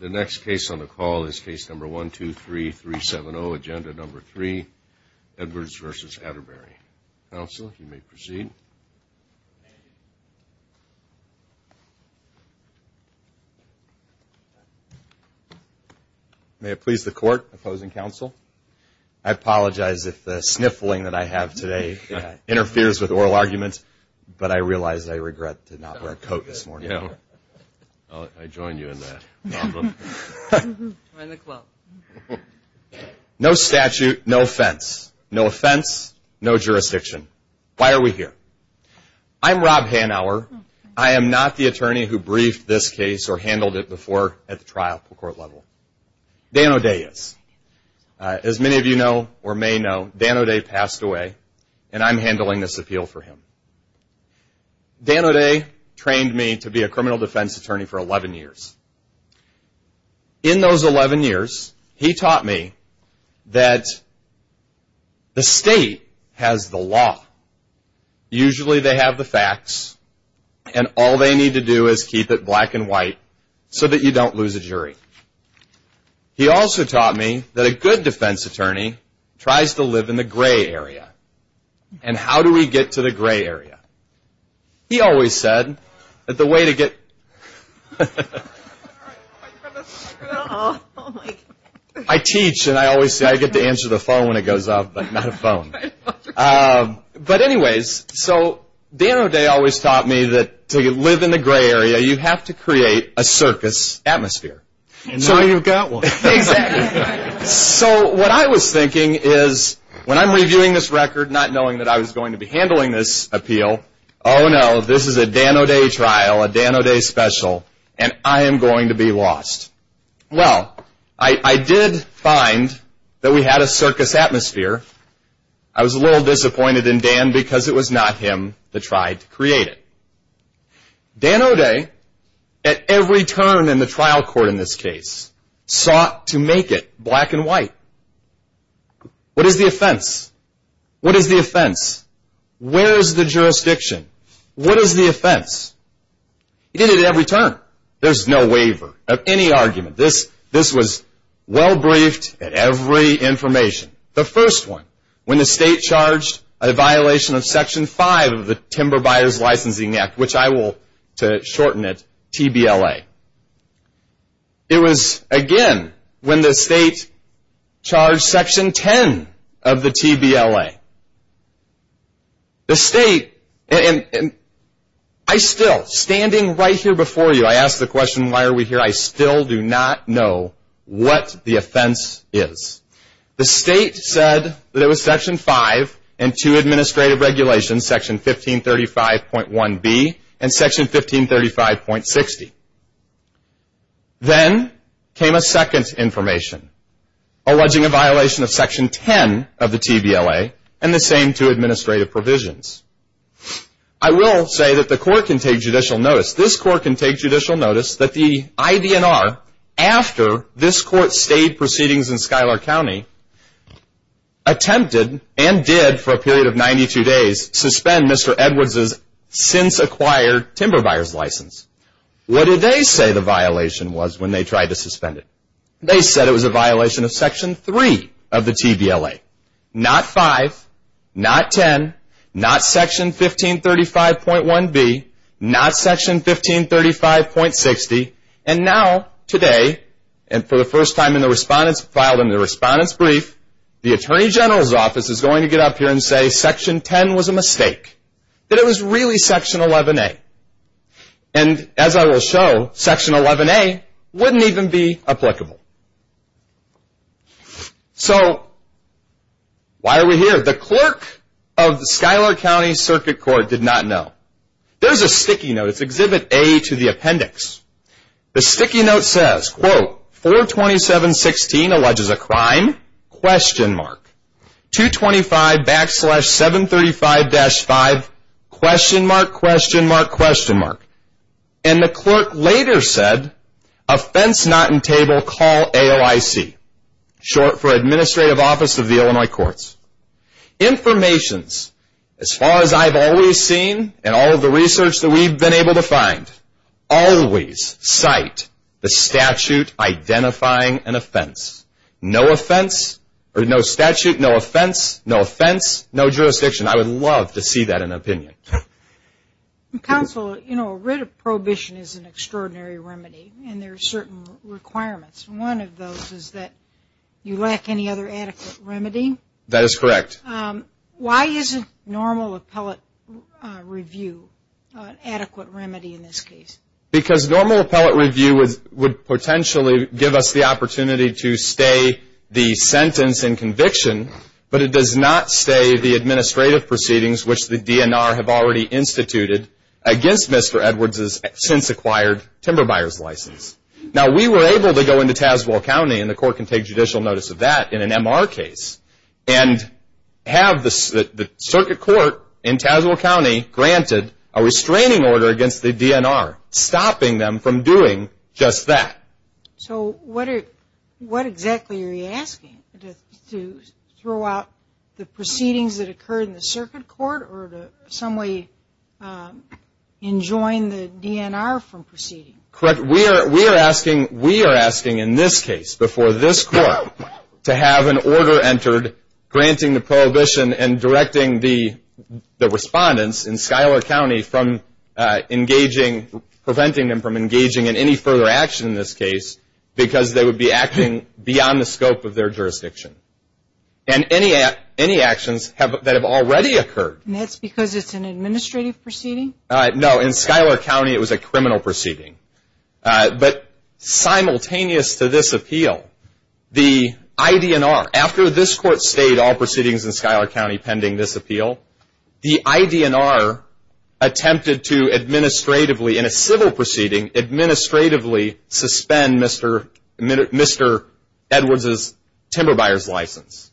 The next case on the call is case number 123-370, agenda number 3, Edwards v. Atterberry. Counsel, you may proceed. May it please the Court, opposing counsel? I apologize if the sniffling that I have today interferes with oral arguments, but I realize I regret to not wear a coat this morning. You know, I join you in that. No statute, no offense. No offense, no jurisdiction. Why are we here? I'm Rob Hanauer. I am not the attorney who briefed this case or handled it before at the trial court level. Dan O'Day is. As many of you know or may know, Dan O'Day passed away, and I'm handling this appeal for him. Dan O'Day trained me to be a criminal defense attorney for 11 years. In those 11 years, he taught me that the state has the law. Usually they have the facts, and all they need to do is keep it black and white so that you don't lose a jury. He also taught me that a good defense attorney tries to live in the gray area. And how do we get to the gray area? He always said that the way to get... I teach, and I always say I get to answer the phone when it goes off, but not a phone. But anyways, so Dan O'Day always taught me that to live in the gray area, you have to create a circus atmosphere. And now you've got one. Exactly. So what I was thinking is when I'm reviewing this record not knowing that I was going to be handling this appeal, oh no, this is a Dan O'Day trial, a Dan O'Day special, and I am going to be lost. Well, I did find that we had a circus atmosphere. I was a little disappointed in Dan because it was not him that tried to create it. Dan O'Day, at every turn in the trial court in this case, sought to make it black and white. What is the offense? What is the offense? Where is the jurisdiction? What is the offense? He did it at every turn. There's no waiver of any argument. This was well briefed at every information. The first one, when the state charged a violation of Section 5 of the Timber Buyers Licensing Act, which I will, to shorten it, TBLA. It was, again, when the state charged Section 10 of the TBLA. I still, standing right here before you, I ask the question, why are we here? I still do not know what the offense is. The state said that it was Section 5 and two administrative regulations, Section 1535.1B and Section 1535.60. Then came a second information, alleging a violation of Section 10 of the TBLA and the same two administrative provisions. I will say that the court can take judicial notice. This court can take judicial notice that the IDNR, after this court's state proceedings in Schuyler County, attempted and did, for a period of 92 days, suspend Mr. Edwards' since-acquired timber buyers license. What did they say the violation was when they tried to suspend it? They said it was a violation of Section 3 of the TBLA, not 5, not 10, not Section 1535.1B, not Section 1535.60. And now, today, and for the first time filed in the Respondent's Brief, the Attorney General's Office is going to get up here and say Section 10 was a mistake, that it was really Section 11A. And, as I will show, Section 11A wouldn't even be applicable. So, why are we here? The clerk of the Schuyler County Circuit Court did not know. There's a sticky note. It's Exhibit A to the appendix. The sticky note says, quote, 427.16 alleges a crime, question mark. 225 backslash 735-5, question mark, question mark, question mark. And the clerk later said, offense not in table, call AOIC, short for Administrative Office of the Illinois Courts. Informations, as far as I've always seen, and all of the research that we've been able to find, always cite the statute identifying an offense. No offense, or no statute, no offense, no offense, no jurisdiction. I would love to see that in an opinion. Counsel, you know, writ of prohibition is an extraordinary remedy, and there are certain requirements. One of those is that you lack any other adequate remedy. That is correct. Why isn't normal appellate review an adequate remedy in this case? Because normal appellate review would potentially give us the opportunity to stay the sentence in conviction, but it does not stay the administrative proceedings, which the DNR have already instituted against Mr. Edwards' since-acquired timber buyer's license. Now, we were able to go into Tazewell County, and the court can take judicial notice of that in an MR case, and have the circuit court in Tazewell County granted a restraining order against the DNR, stopping them from doing just that. So what exactly are you asking? To throw out the proceedings that occurred in the circuit court, or to in some way enjoin the DNR from proceeding? Correct. We are asking in this case, before this court, to have an order entered granting the prohibition and directing the respondents in Schuyler County from engaging, preventing them from engaging in any further action in this case, because they would be acting beyond the scope of their jurisdiction. And any actions that have already occurred. And that's because it's an administrative proceeding? No, in Schuyler County it was a criminal proceeding. But simultaneous to this appeal, the IDNR, after this court stayed all proceedings in Schuyler County pending this appeal, the IDNR attempted to administratively, in a civil proceeding, administratively suspend Mr. Edwards' timber buyer's license,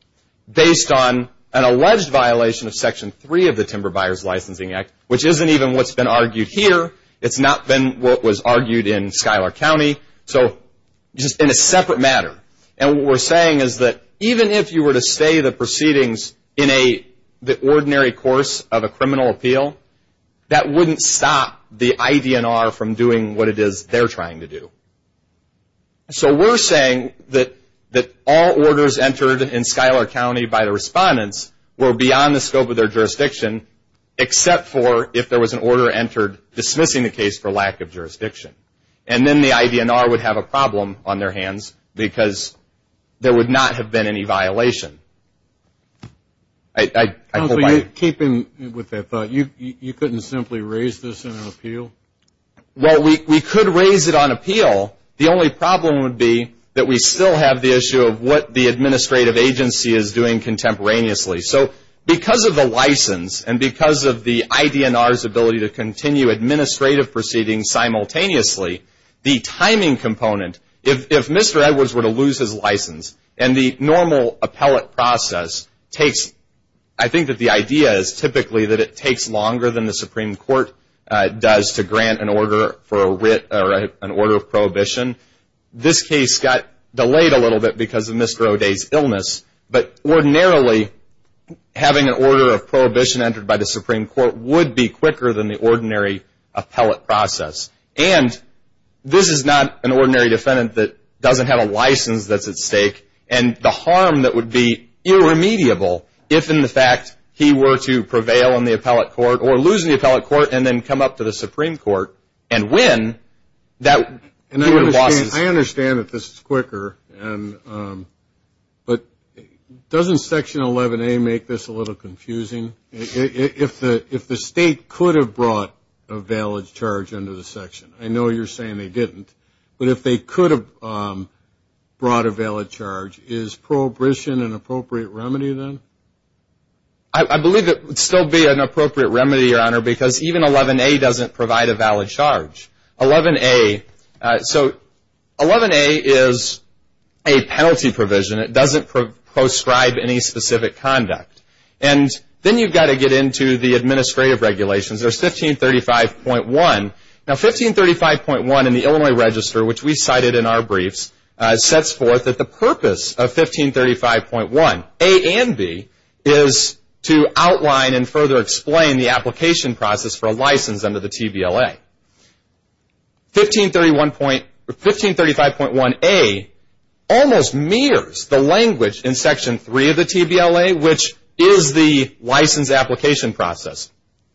based on an alleged violation of Section 3 of the Timber Buyers Licensing Act, which isn't even what's been argued here. It's not been what was argued in Schuyler County. So just in a separate matter. And what we're saying is that even if you were to stay the proceedings in the ordinary course of a criminal appeal, that wouldn't stop the IDNR from doing what it is they're trying to do. So we're saying that all orders entered in Schuyler County by the respondents were beyond the scope of their jurisdiction, except for if there was an order entered dismissing the case for lack of jurisdiction. And then the IDNR would have a problem on their hands because there would not have been any violation. I hope I've. Keeping with that thought, you couldn't simply raise this in an appeal? Well, we could raise it on appeal. The only problem would be that we still have the issue of what the administrative agency is doing contemporaneously. So because of the license and because of the IDNR's ability to continue administrative proceedings simultaneously, the timing component, if Mr. Edwards were to lose his license and the normal appellate process takes, I think that the idea is typically that it takes longer than the Supreme Court does to grant an order for a writ or an order of prohibition. This case got delayed a little bit because of Mr. O'Day's illness, but ordinarily having an order of prohibition entered by the Supreme Court would be quicker than the ordinary appellate process. And this is not an ordinary defendant that doesn't have a license that's at stake, and the harm that would be irremediable if, in fact, he were to prevail in the appellate court or lose in the appellate court and then come up to the Supreme Court and win. I understand that this is quicker, but doesn't Section 11A make this a little confusing? If the state could have brought a valid charge under the section, I know you're saying they didn't, but if they could have brought a valid charge, is prohibition an appropriate remedy then? I believe it would still be an appropriate remedy, Your Honor, because even 11A doesn't provide a valid charge. 11A is a penalty provision. It doesn't proscribe any specific conduct. And then you've got to get into the administrative regulations. There's 1535.1. Now 1535.1 in the Illinois Register, which we cited in our briefs, sets forth that the purpose of 1535.1A and 1535.1B is to outline and further explain the application process for a license under the TVLA. 1535.1A almost mirrors the language in Section 3 of the TVLA, which is the license application process.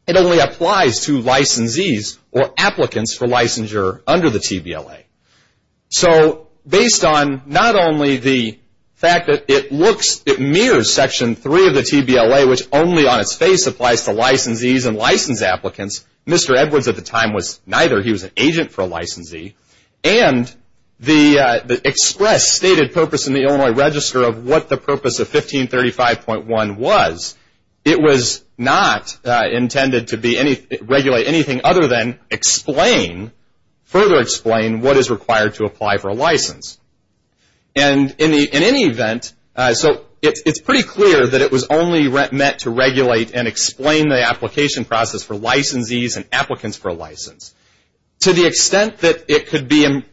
It only applies to licensees or applicants for licensure under the TVLA. So based on not only the fact that it mirrors Section 3 of the TVLA, which only on its face applies to licensees and license applicants, Mr. Edwards at the time was neither. He was an agent for a licensee. And the express stated purpose in the Illinois Register of what the purpose of 1535.1 was, it was not intended to regulate anything other than explain, further explain what is required to apply for a license. And in any event, so it's pretty clear that it was only meant to regulate and explain the application process for licensees and applicants for a license. To the extent that it could be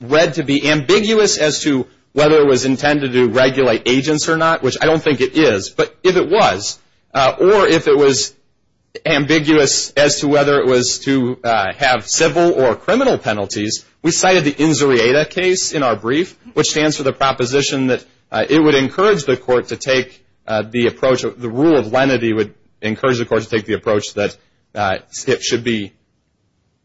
read to be ambiguous as to whether it was intended to regulate agents or not, which I don't think it is, but if it was, or if it was ambiguous as to whether it was to have civil or criminal penalties, we cited the INZURIATA case in our brief, which stands for the proposition that it would encourage the court to take the approach, the rule of lenity would encourage the court to take the approach that it should be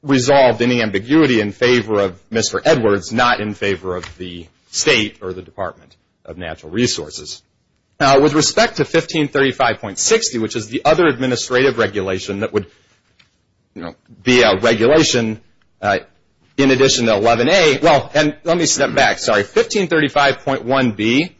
resolved, any ambiguity in favor of Mr. Edwards, not in favor of the state or the Department of Natural Resources. With respect to 1535.60, which is the other administrative regulation that would be a regulation in addition to 11A, well, and let me step back, sorry, 1535.1B,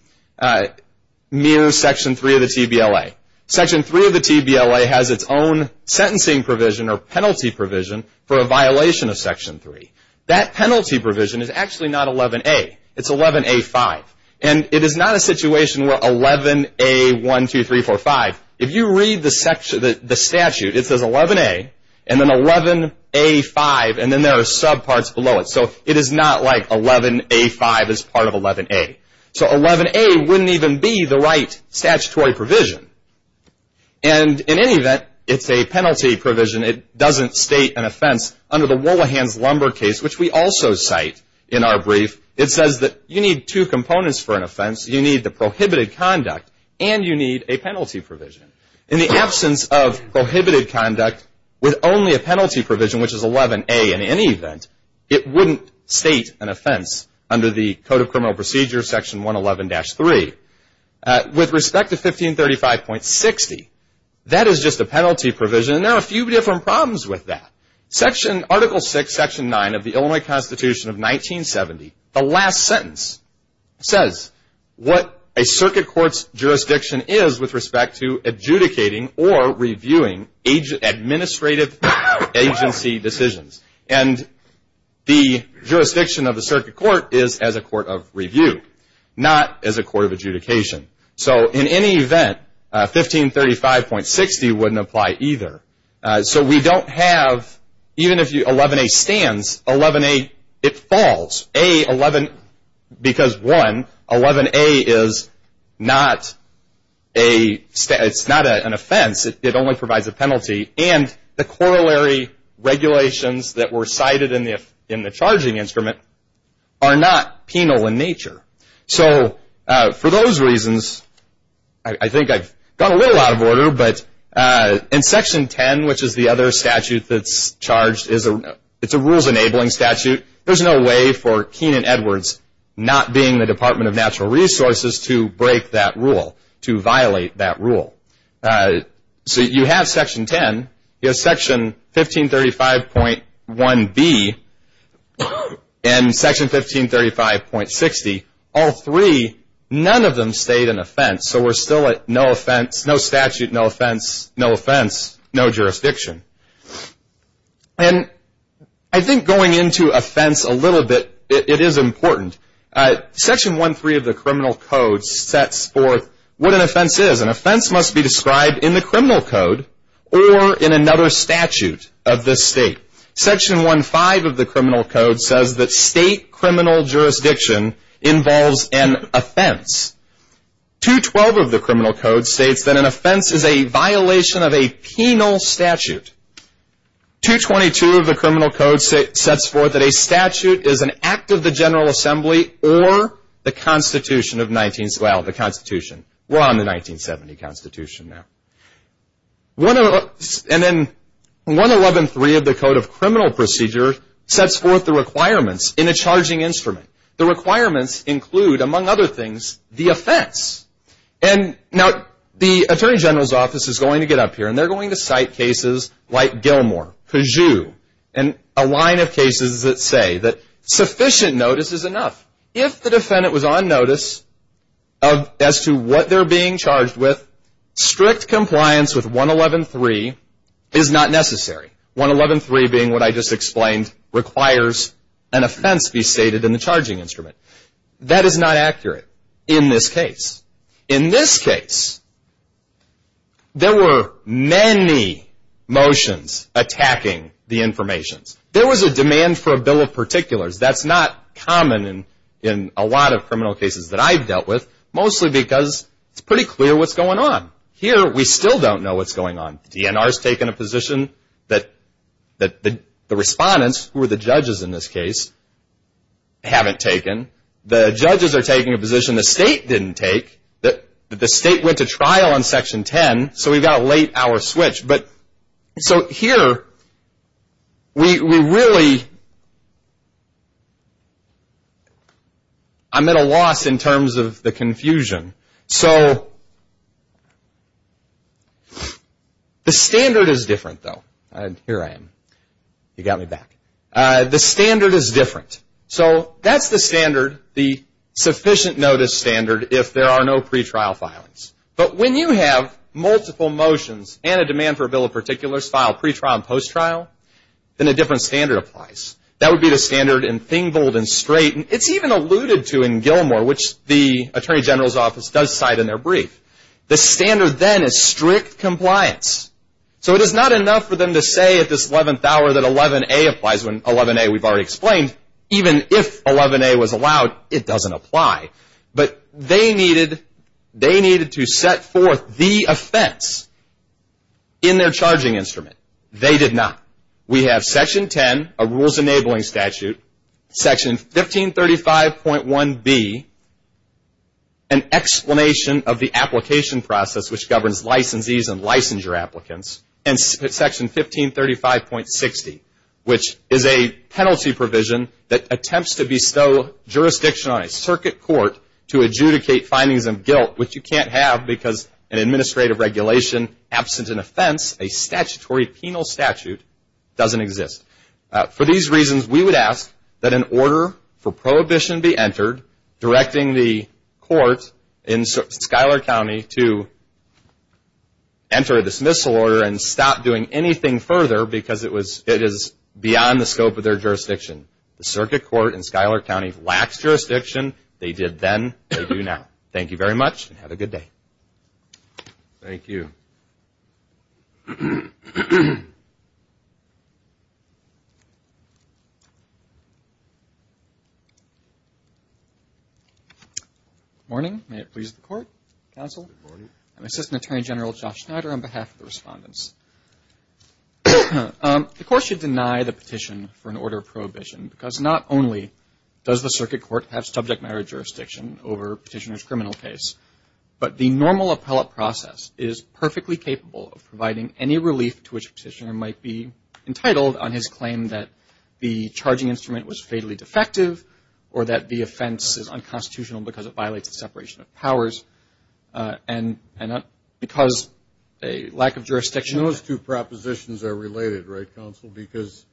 mew Section 3 of the TBLA. Section 3 of the TBLA has its own sentencing provision or penalty provision for a violation of Section 3. That penalty provision is actually not 11A, it's 11A.5, and it is not a situation where 11A.1, 2, 3, 4, 5, if you read the statute, it says 11A, and then 11A.5, and then there are subparts below it, so it is not like 11A.5 is part of 11A. So 11A wouldn't even be the right statutory provision, and in any event, it's a penalty provision. It doesn't state an offense under the Wollahans-Lumber case, which we also cite in our brief. It says that you need two components for an offense. You need the prohibited conduct, and you need a penalty provision. In the absence of prohibited conduct with only a penalty provision, which is 11A in any event, it wouldn't state an offense under the Code of Criminal Procedures, Section 111-3. With respect to 1535.60, that is just a penalty provision, and there are a few different problems with that. Article 6, Section 9 of the Illinois Constitution of 1970, the last sentence, says what a circuit court's jurisdiction is with respect to adjudicating or reviewing administrative agency decisions. And the jurisdiction of the circuit court is as a court of review, not as a court of adjudication. So in any event, 1535.60 wouldn't apply either. So we don't have, even if 11A stands, 11A, it falls. A, 11, because one, 11A is not a, it's not an offense. It only provides a penalty. And the corollary regulations that were cited in the charging instrument are not penal in nature. So for those reasons, I think I've gone a little out of order, but in Section 10, which is the other statute that's charged, it's a rules-enabling statute. There's no way for Kenan Edwards, not being the Department of Natural Resources, to break that rule, to violate that rule. So you have Section 10. You have Section 1535.1b and Section 1535.60. All three, none of them state an offense. So we're still at no offense, no statute, no offense, no offense, no jurisdiction. And I think going into offense a little bit, it is important. Section 1.3 of the Criminal Code sets forth what an offense is. An offense must be described in the Criminal Code or in another statute of this state. Section 1.5 of the Criminal Code says that state criminal jurisdiction involves an offense. 2.12 of the Criminal Code states that an offense is a violation of a penal statute. 2.22 of the Criminal Code sets forth that a statute is an act of the General Assembly or the Constitution of 1970. Well, the Constitution. We're on the 1970 Constitution now. And then 1.11.3 of the Code of Criminal Procedure sets forth the requirements in a charging instrument. The requirements include, among other things, the offense. And now the Attorney General's Office is going to get up here and they're going to cite cases like Gilmore, Peugeot, and a line of cases that say that sufficient notice is enough. If the defendant was on notice as to what they're being charged with, strict compliance with 1.11.3 is not necessary. 1.11.3 being what I just explained requires an offense be stated in the charging instrument. That is not accurate in this case. In this case, there were many motions attacking the information. There was a demand for a bill of particulars. That's not common in a lot of criminal cases that I've dealt with, mostly because it's pretty clear what's going on. Here, we still don't know what's going on. The DNR has taken a position that the respondents, who are the judges in this case, haven't taken. The judges are taking a position the state didn't take. The state went to trial on Section 10, so we've got a late-hour switch. So here, we really are at a loss in terms of the confusion. So the standard is different, though. Here I am. You got me back. The standard is different. So that's the standard, the sufficient notice standard, if there are no pretrial filings. But when you have multiple motions and a demand for a bill of particulars filed pretrial and posttrial, then a different standard applies. That would be the standard in Thingvold and Strait. It's even alluded to in Gilmore, which the Attorney General's Office does cite in their brief. The standard then is strict compliance. So it is not enough for them to say at this 11th hour that 11A applies when 11A we've already explained. Even if 11A was allowed, it doesn't apply. But they needed to set forth the offense in their charging instrument. They did not. We have Section 10, a rules-enabling statute, Section 1535.1B, an explanation of the application process which governs licensees and licensure applicants, and Section 1535.60, which is a penalty provision that attempts to bestow jurisdiction on a circuit court to adjudicate findings of guilt, which you can't have because an administrative regulation absent an offense, a statutory penal statute, doesn't exist. For these reasons, we would ask that an order for prohibition be entered directing the court in Schuyler County to enter a dismissal order and stop doing anything further because it is beyond the scope of their jurisdiction. The circuit court in Schuyler County lacks jurisdiction. They did then. They do now. Thank you very much, and have a good day. Thank you. Good morning. May it please the Court, Counsel. Good morning. I'm Assistant Attorney General Josh Schneider on behalf of the respondents. The Court should deny the petition for an order of prohibition because not only does the circuit court have The normal appellate process is perfectly capable of providing any relief to which a petitioner might be entitled on his claim that the charging instrument was fatally defective or that the offense is unconstitutional because it violates the separation of powers, and because a lack of jurisdiction Those two propositions are related, right, Counsel, because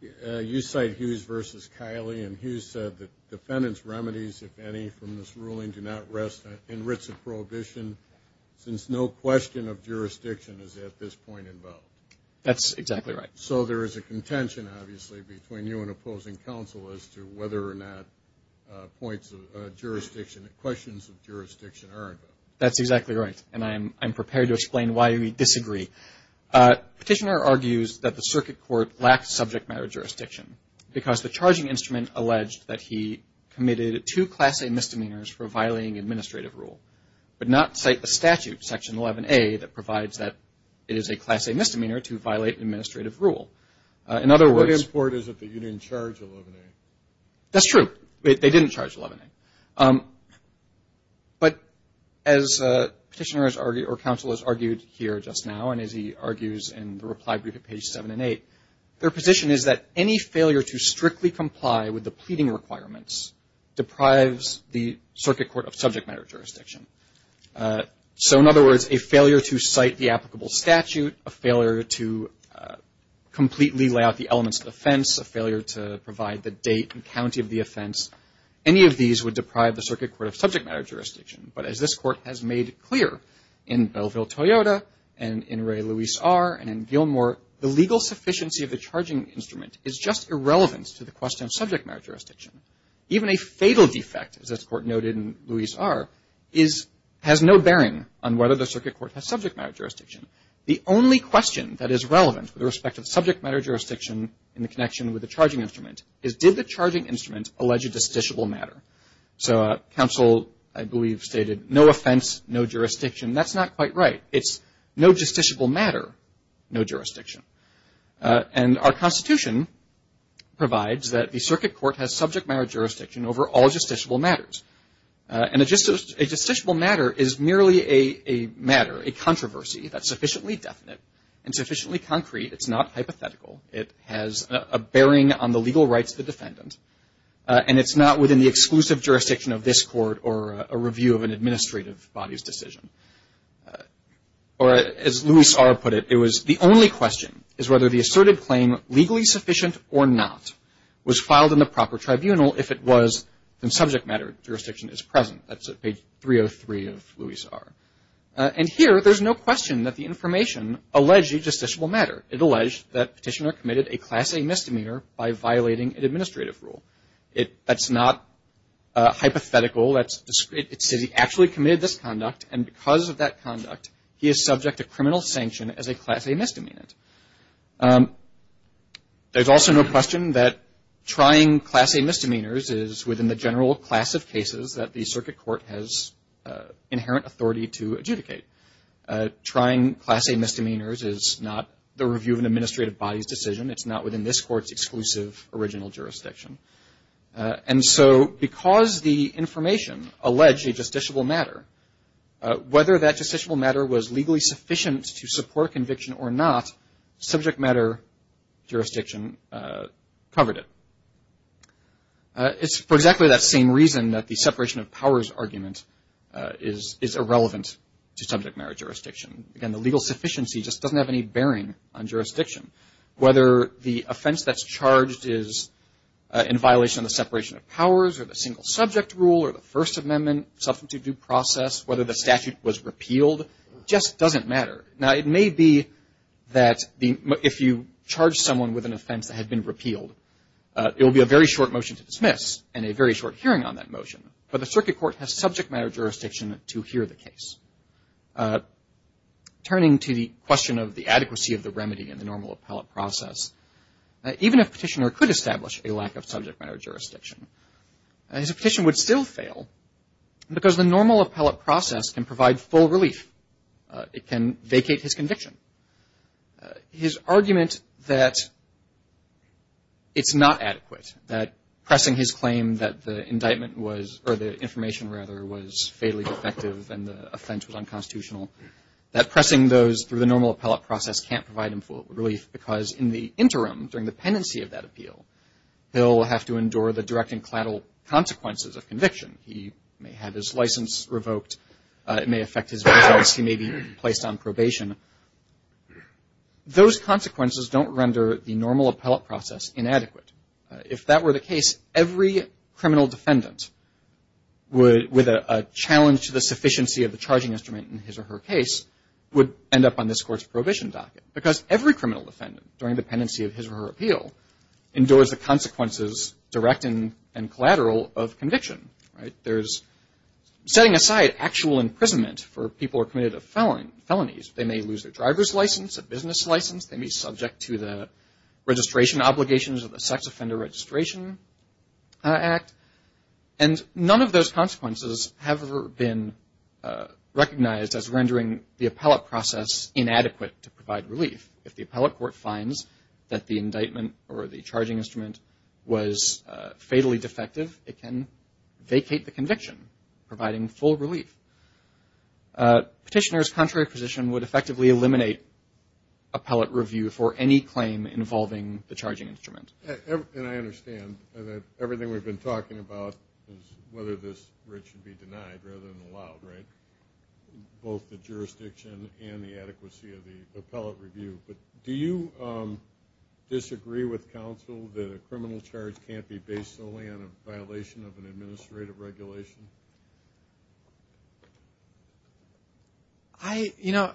you cite Hughes v. Kiley, and Hughes said that defendants' remedies, if any, from this ruling do not rest in writs of prohibition since no question of jurisdiction is at this point involved. That's exactly right. So there is a contention, obviously, between you and opposing counsel as to whether or not points of jurisdiction or questions of jurisdiction are involved. That's exactly right, and I'm prepared to explain why we disagree. Petitioner argues that the circuit court lacks subject matter jurisdiction because the charging instrument alleged that he committed two Class A misdemeanors for violating administrative rule, but not cite the statute, Section 11A, that provides that it is a Class A misdemeanor to violate administrative rule. In other words, What import is it that you didn't charge 11A? That's true. They didn't charge 11A. But as Petitioner or Counsel has argued here just now, and as he argues in the reply brief at page 7 and 8, their position is that any failure to strictly comply with the pleading requirements deprives the circuit court of subject matter jurisdiction. So in other words, a failure to cite the applicable statute, a failure to completely lay out the elements of offense, a failure to provide the date and county of the offense, any of these would deprive the circuit court of subject matter jurisdiction. But as this Court has made clear in Belleville-Toyota and in Ray-Louise R. and in Gilmore, the legal sufficiency of the charging instrument is just irrelevant to the question of subject matter jurisdiction. Even a fatal defect, as this Court noted in Louise R., has no bearing on whether the circuit court has subject matter jurisdiction. The only question that is relevant with respect to the subject matter jurisdiction in the connection with the charging instrument is did the charging instrument allege a justiciable matter? So Counsel, I believe, stated no offense, no jurisdiction. That's not quite right. It's no justiciable matter, no jurisdiction. And our Constitution provides that the circuit court has subject matter jurisdiction over all justiciable matters. And a justiciable matter is merely a matter, a controversy that's sufficiently definite and sufficiently concrete. It's not hypothetical. It has a bearing on the legal rights of the defendant. And it's not within the exclusive jurisdiction of this Court or a review of an administrative body's decision. Or as Louise R. put it, it was the only question is whether the asserted claim, legally sufficient or not, was filed in the proper tribunal. If it was, then subject matter jurisdiction is present. That's at page 303 of Louise R. And here, there's no question that the information alleged a justiciable matter. It alleged that Petitioner committed a Class A misdemeanor by violating an administrative rule. That's not hypothetical. It says he actually committed this conduct, and because of that conduct, he is subject to criminal sanction as a Class A misdemeanant. There's also no question that trying Class A misdemeanors is within the general class of cases that the circuit court has inherent authority to adjudicate. Trying Class A misdemeanors is not the review of an administrative body's decision. It's not within this Court's exclusive original jurisdiction. And so because the information alleged a justiciable matter, whether that justiciable matter was legally sufficient to support conviction or not, subject matter jurisdiction covered it. It's for exactly that same reason that the separation of powers argument is irrelevant to subject matter jurisdiction. Again, the legal sufficiency just doesn't have any bearing on jurisdiction. Whether the offense that's charged is in violation of the separation of powers or the single subject rule or the First Amendment substantive due process, whether the statute was repealed, just doesn't matter. Now, it may be that if you charge someone with an offense that had been repealed, it will be a very short motion to dismiss and a very short hearing on that motion. But the circuit court has subject matter jurisdiction to hear the case. Turning to the question of the adequacy of the remedy in the normal appellate process, even if a petitioner could establish a lack of subject matter jurisdiction, his petition would still fail because the normal appellate process can provide full relief. It can vacate his conviction. His argument that it's not adequate, that pressing his claim that the indictment was, or the information, rather, was fatally defective and the offense was unconstitutional, that pressing those through the normal appellate process can't provide him full relief because in the interim, during the pendency of that appeal, he'll have to endure the direct and collateral consequences of conviction. He may have his license revoked. It may affect his results. He may be placed on probation. Those consequences don't render the normal appellate process inadequate. If that were the case, every criminal defendant would, with a challenge to the sufficiency of the charging instrument in his or her case, would end up on this court's prohibition docket because every criminal defendant, during the pendency of his or her appeal, endures the consequences, direct and collateral, of conviction. There's, setting aside actual imprisonment for people who are committed of felonies, they may lose their driver's license, a business license. They may be subject to the registration obligations of the Sex Offender Registration Act. And none of those consequences have ever been recognized as rendering the appellate process inadequate to provide relief. If the appellate court finds that the indictment or the charging instrument was fatally defective, it can vacate the conviction, providing full relief. Petitioners' contrary position would effectively eliminate appellate review for any claim involving the charging instrument. And I understand that everything we've been talking about is whether this writ should be denied rather than allowed, right? Both the jurisdiction and the adequacy of the appellate review. But do you disagree with counsel that a criminal charge can't be based solely on a violation of an administrative regulation? I, you know,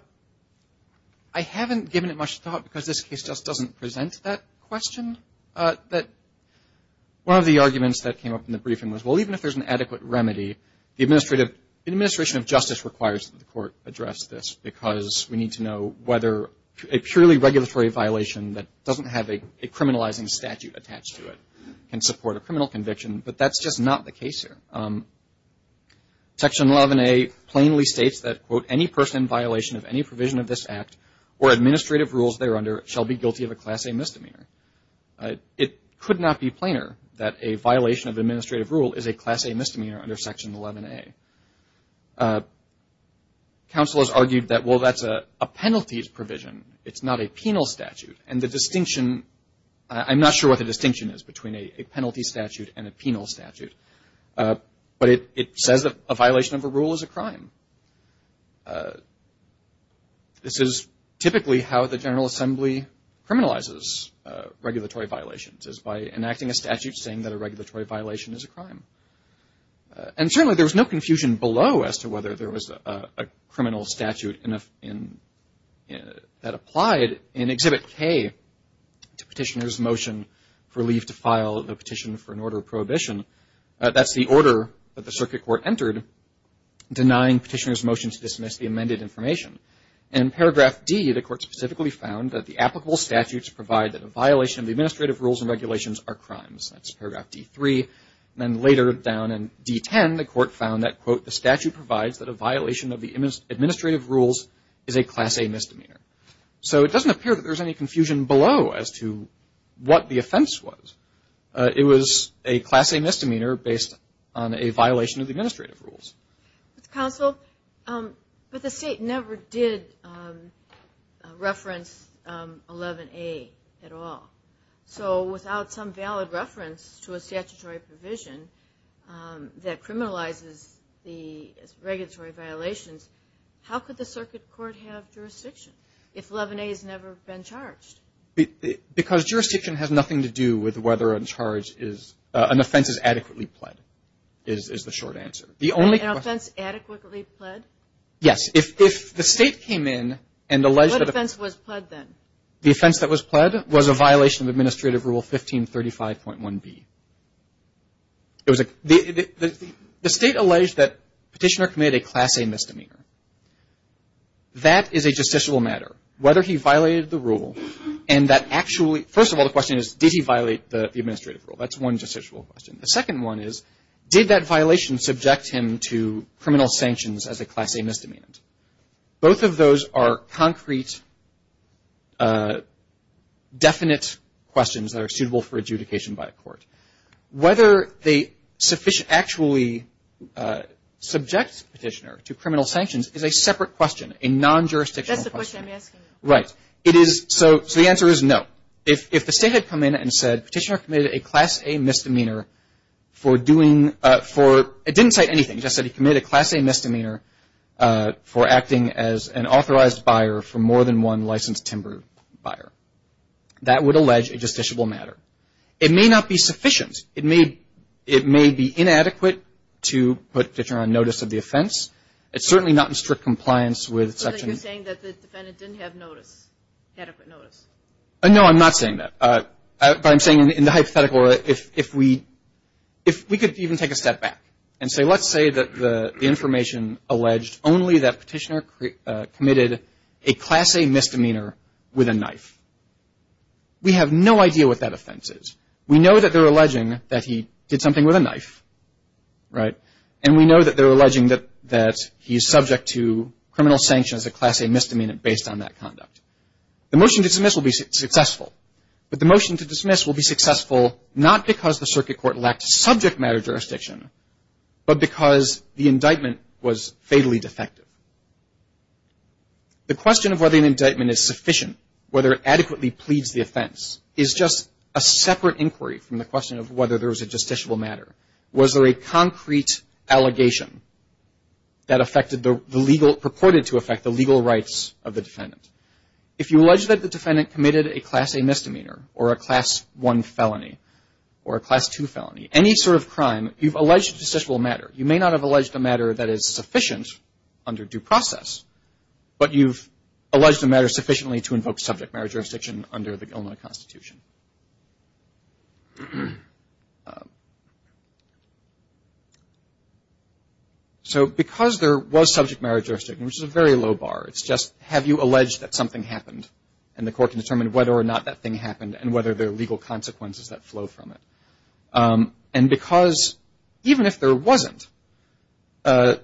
I haven't given it much thought because this case just doesn't present that question. One of the arguments that came up in the briefing was, well, even if there's an adequate remedy, the administrative, the administration of justice requires that the court address this because we need to know whether a purely regulatory violation that doesn't have a criminalizing statute attached to it can support a criminal conviction. But that's just not the case here. Section 11A plainly states that, quote, any person in violation of any provision of this Act or administrative rules thereunder shall be guilty of a Class A misdemeanor. It could not be plainer that a violation of administrative rule is a Class A misdemeanor under Section 11A. Counsel has argued that, well, that's a penalties provision, it's not a penal statute. And the distinction, I'm not sure what the distinction is between a penalty statute and a penal statute. But it says that a violation of a rule is a crime. This is typically how the General Assembly criminalizes regulatory violations, is by enacting a statute saying that a regulatory violation is a crime. And certainly there was no confusion below as to whether there was a criminal statute that applied in Exhibit K to petitioner's motion for leave to file a petition for an order of prohibition. That's the order that the Circuit Court entered denying petitioner's motion to dismiss the amended information. In paragraph D, the Court specifically found that the applicable statutes provide that a violation of administrative rules and regulations are crimes. That's paragraph D3. And then later down in D10, the Court found that, quote, the statute provides that a violation of the administrative rules is a Class A misdemeanor. So it doesn't appear that there's any confusion below as to what the offense was. It was a Class A misdemeanor based on a violation of the administrative rules. Counsel, but the State never did reference 11A at all. So without some valid reference to a statutory provision that criminalizes the regulatory violations, how could the Circuit Court have jurisdiction if 11A has never been charged? Because jurisdiction has nothing to do with whether an offense is adequately pled is the short answer. An offense adequately pled? Yes. If the State came in and alleged that the offense that was pled was a violation of administrative rule 1535.1b, the State alleged that petitioner committed a Class A misdemeanor. That is a justiciable matter, whether he violated the rule and that actually, first of all the question is, did he violate the administrative rule? That's one justiciable question. The second one is, did that violation subject him to criminal sanctions as a Class A misdemeanor? Both of those are concrete, definite questions that are suitable for adjudication by a court. Whether they actually subject petitioner to criminal sanctions is a separate question, a non-jurisdictional question. That's the question I'm asking you. Right. So the answer is no. If the State had come in and said petitioner committed a Class A misdemeanor for doing, it didn't say anything, it just said he committed a Class A misdemeanor for acting as an authorized buyer of a knife. So the answer is no. The answer is no. The answer is no. And we know that they're alleging that he did something with a knife, right, and we know that they're alleging that he's subject to criminal sanctions as a Class A misdemeanor based on that conduct. The motion to dismiss will be successful, but the motion to dismiss will be successful not because the circuit court lacked subject matter jurisdiction, but because the indictment was fatally defective. The question of whether an indictment is sufficient, whether it adequately pleads the offense, is just a separate inquiry from the question of whether there was a justiciable matter. Was there a concrete allegation that affected the legal, purported to affect the legal rights of the defendant? If you allege that the defendant committed a Class A misdemeanor or a Class 1 felony or a Class 2 felony, any sort of crime, you've alleged a justiciable matter. You may not have alleged a matter that is sufficient under due process, but you've alleged a matter sufficiently to invoke subject matter jurisdiction under the Illinois Constitution. So because there was subject matter jurisdiction, which is a very low bar, it's just have you alleged that something happened, and the court can determine whether or not that thing happened and whether there are legal consequences that flow from it. And because even if there wasn't, the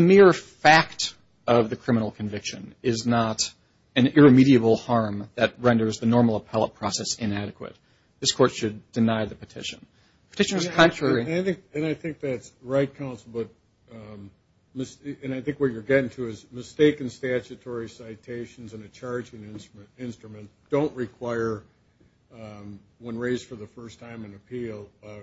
mere fact of the criminal conviction is not an irremediable harm that renders the normal appellate process inadequate. This court should deny the petition. Petitioners contrary. And I think that's right, counsel. And I think what you're getting to is mistaken statutory citations in a charging instrument don't require one raised for the first time on appeal, a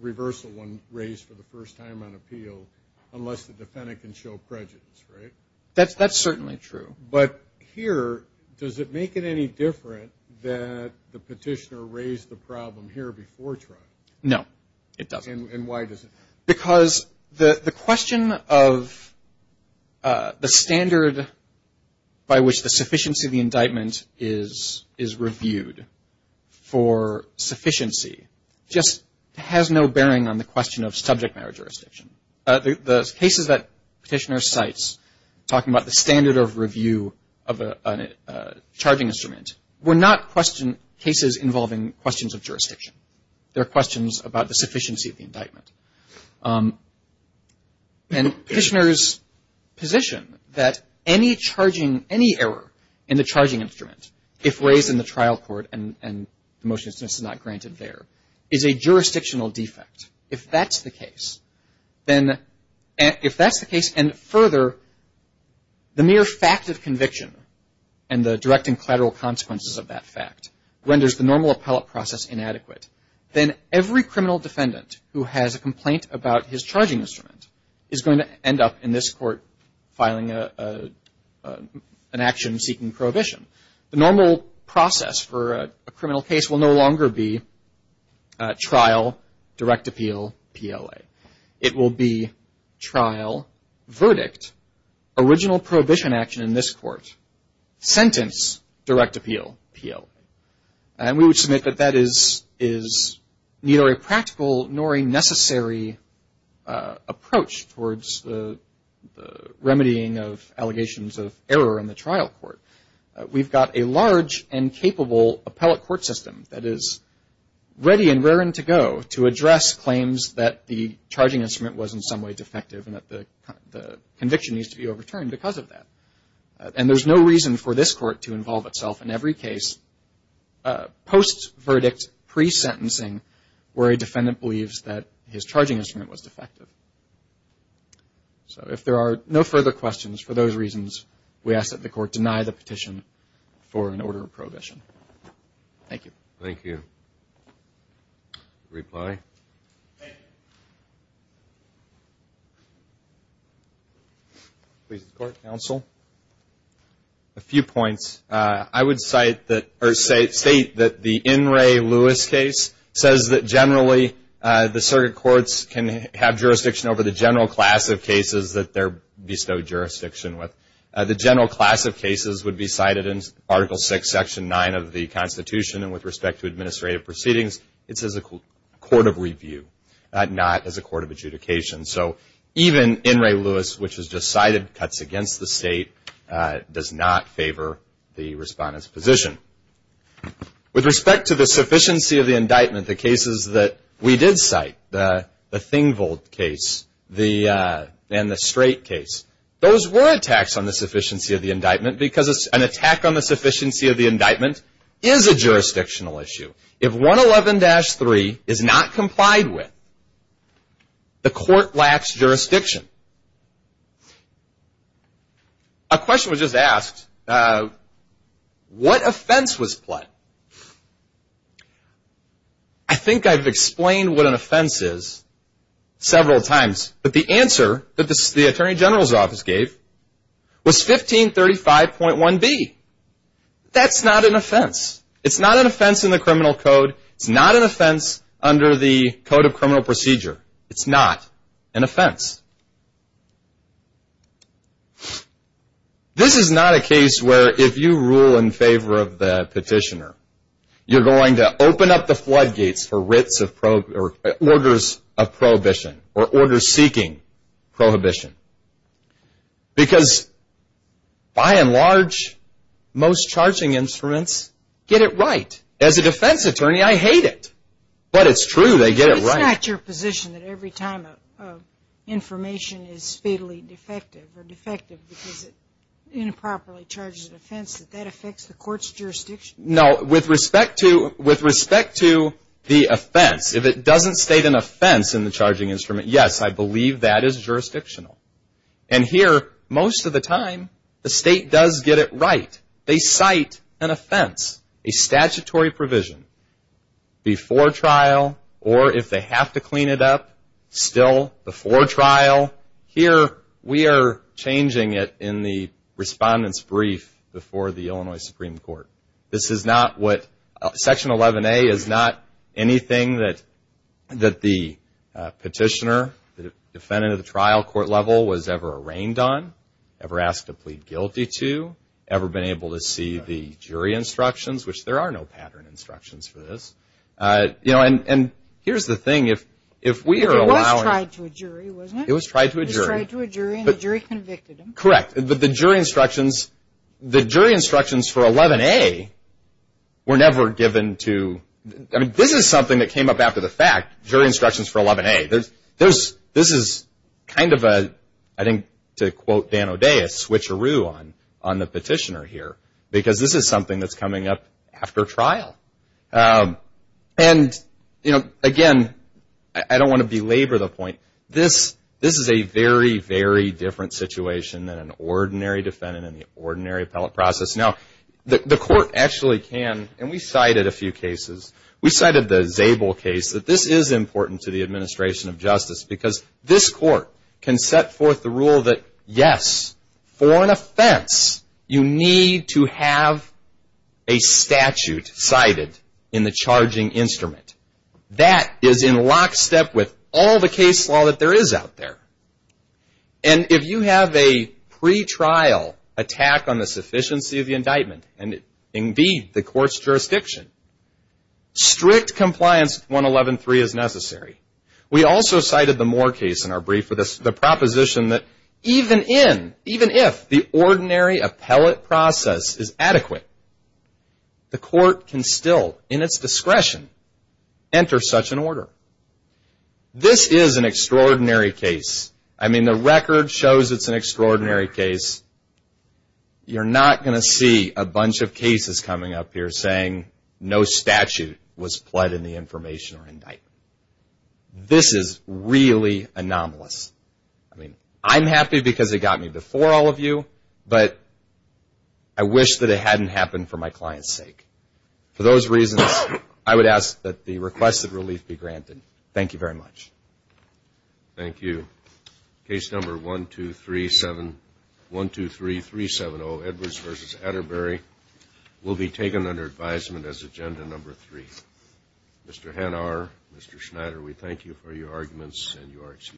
reversal one raised for the first time on appeal, unless the defendant can show prejudice, right? That's certainly true. But here, does it make it any different that the petitioner raised the problem here before trial? No, it doesn't. And why does it? Because the question of the standard by which the sufficiency of the indictment is reviewed for sufficiency just has no bearing on the question of subject matter jurisdiction. The cases that Petitioner cites, talking about the standard of review of a charging instrument, were not cases involving questions of jurisdiction. They're questions about the sufficiency of the indictment. And Petitioner's position that any error in the charging instrument, if raised in the trial court and the motion is not granted there, is a jurisdictional defect. If that's the case, and further, the mere fact of conviction and the direct and collateral consequences of that fact renders the normal appellate process inadequate, then every criminal defendant who has a complaint about his charging instrument is going to end up in this court filing an action seeking prohibition. The normal process for a criminal case will no longer be trial, direct appeal, PLA. It will be trial, verdict, original prohibition action in this court, sentence, direct appeal, PLA. And we would submit that that is neither a practical nor a necessary approach towards the remedying of allegations of error in the trial court. We've got a large and capable appellate court system that is ready and raring to go to address claims that the charging instrument was in some way defective and that the conviction needs to be overturned because of that. And there's no reason for this court to involve itself in every case post-verdict, pre-sentencing, where a defendant believes that his charging instrument was defective. So if there are no further questions, for those reasons, we ask that the court deny the petition for an order of prohibition. Thank you. Thank you. Reply. Please, the court, counsel. A few points. I would state that the In Re Lewis case says that generally the circuit courts can have jurisdiction over the general class of cases that they bestow jurisdiction with. The general class of cases would be cited in Article VI, Section 9 of the Constitution, and with respect to administrative proceedings, it's as a court of review, not as a court of adjudication. So even In Re Lewis, which is just cited, cuts against the state, does not favor the respondent's position. With respect to the sufficiency of the indictment, the cases that we did cite, the Thingvold case and the Strait case, those were attacks on the sufficiency of the indictment because an attack on the sufficiency of the indictment is a jurisdictional issue. If 111-3 is not complied with, the court lacks jurisdiction. A question was just asked. What offense was pled? I think I've explained what an offense is several times, but the answer that the Attorney General's office gave was 1535.1b. That's not an offense. It's not an offense in the criminal code. It's not an offense under the Code of Criminal Procedure. It's not an offense. This is not a case where if you rule in favor of the petitioner, you're going to open up the floodgates for orders of prohibition or orders seeking prohibition. Because by and large, most charging instruments get it right. As a defense attorney, I hate it, but it's true. They get it right. It's not your position that every time information is fatally defective or defective because it improperly charges an offense, that that affects the court's jurisdiction? No. With respect to the offense, if it doesn't state an offense in the charging instrument, yes, I believe that is jurisdictional. Here, most of the time, the state does get it right. They cite an offense, a statutory provision before trial, or if they have to clean it up, still before trial. Here, we are changing it in the Respondent's Brief before the Illinois Supreme Court. Section 11A is not anything that the petitioner, the defendant of the trial court level, was ever arraigned on, ever asked to plead guilty to, ever been able to see the jury instructions, which there are no pattern instructions for this. Correct. The jury instructions for 11A were never given to, this is something that came up after the fact, jury instructions for 11A. This is kind of a, I think to quote Dan O'Day, a switcheroo on the petitioner here because this is something that's coming up after trial. Again, I don't want to belabor the point. This is a very, very different situation than an ordinary defendant in the ordinary appellate process. Now, the court actually can, and we cited a few cases. We cited the Zabel case that this is important to the administration of justice because this court can set forth the rule that, yes, for an offense, you need to have a statute cited in the charging instrument. That is in lockstep with all the case law that there is out there. And if you have a pretrial attack on the sufficiency of the indictment, and indeed the court's jurisdiction, strict compliance with 111.3 is necessary. We also cited the Moore case in our brief for the proposition that even in, even if the ordinary appellate process is adequate, the court can still, in its discretion, enter such an order. This is an extraordinary case. I mean, the record shows it's an extraordinary case. You're not going to see a bunch of cases coming up here saying no statute was pled in the information or indictment. This is really anomalous. I mean, I'm happy because it got me before all of you, but I wish that it hadn't happened for my client's sake. For those reasons, I would ask that the request of relief be granted. Thank you very much. Thank you. Case number 123370, Edwards v. Atterbury, will be taken under advisement as agenda number three. Mr. Hanauer, Mr. Schneider, we thank you for your arguments, and you are excused.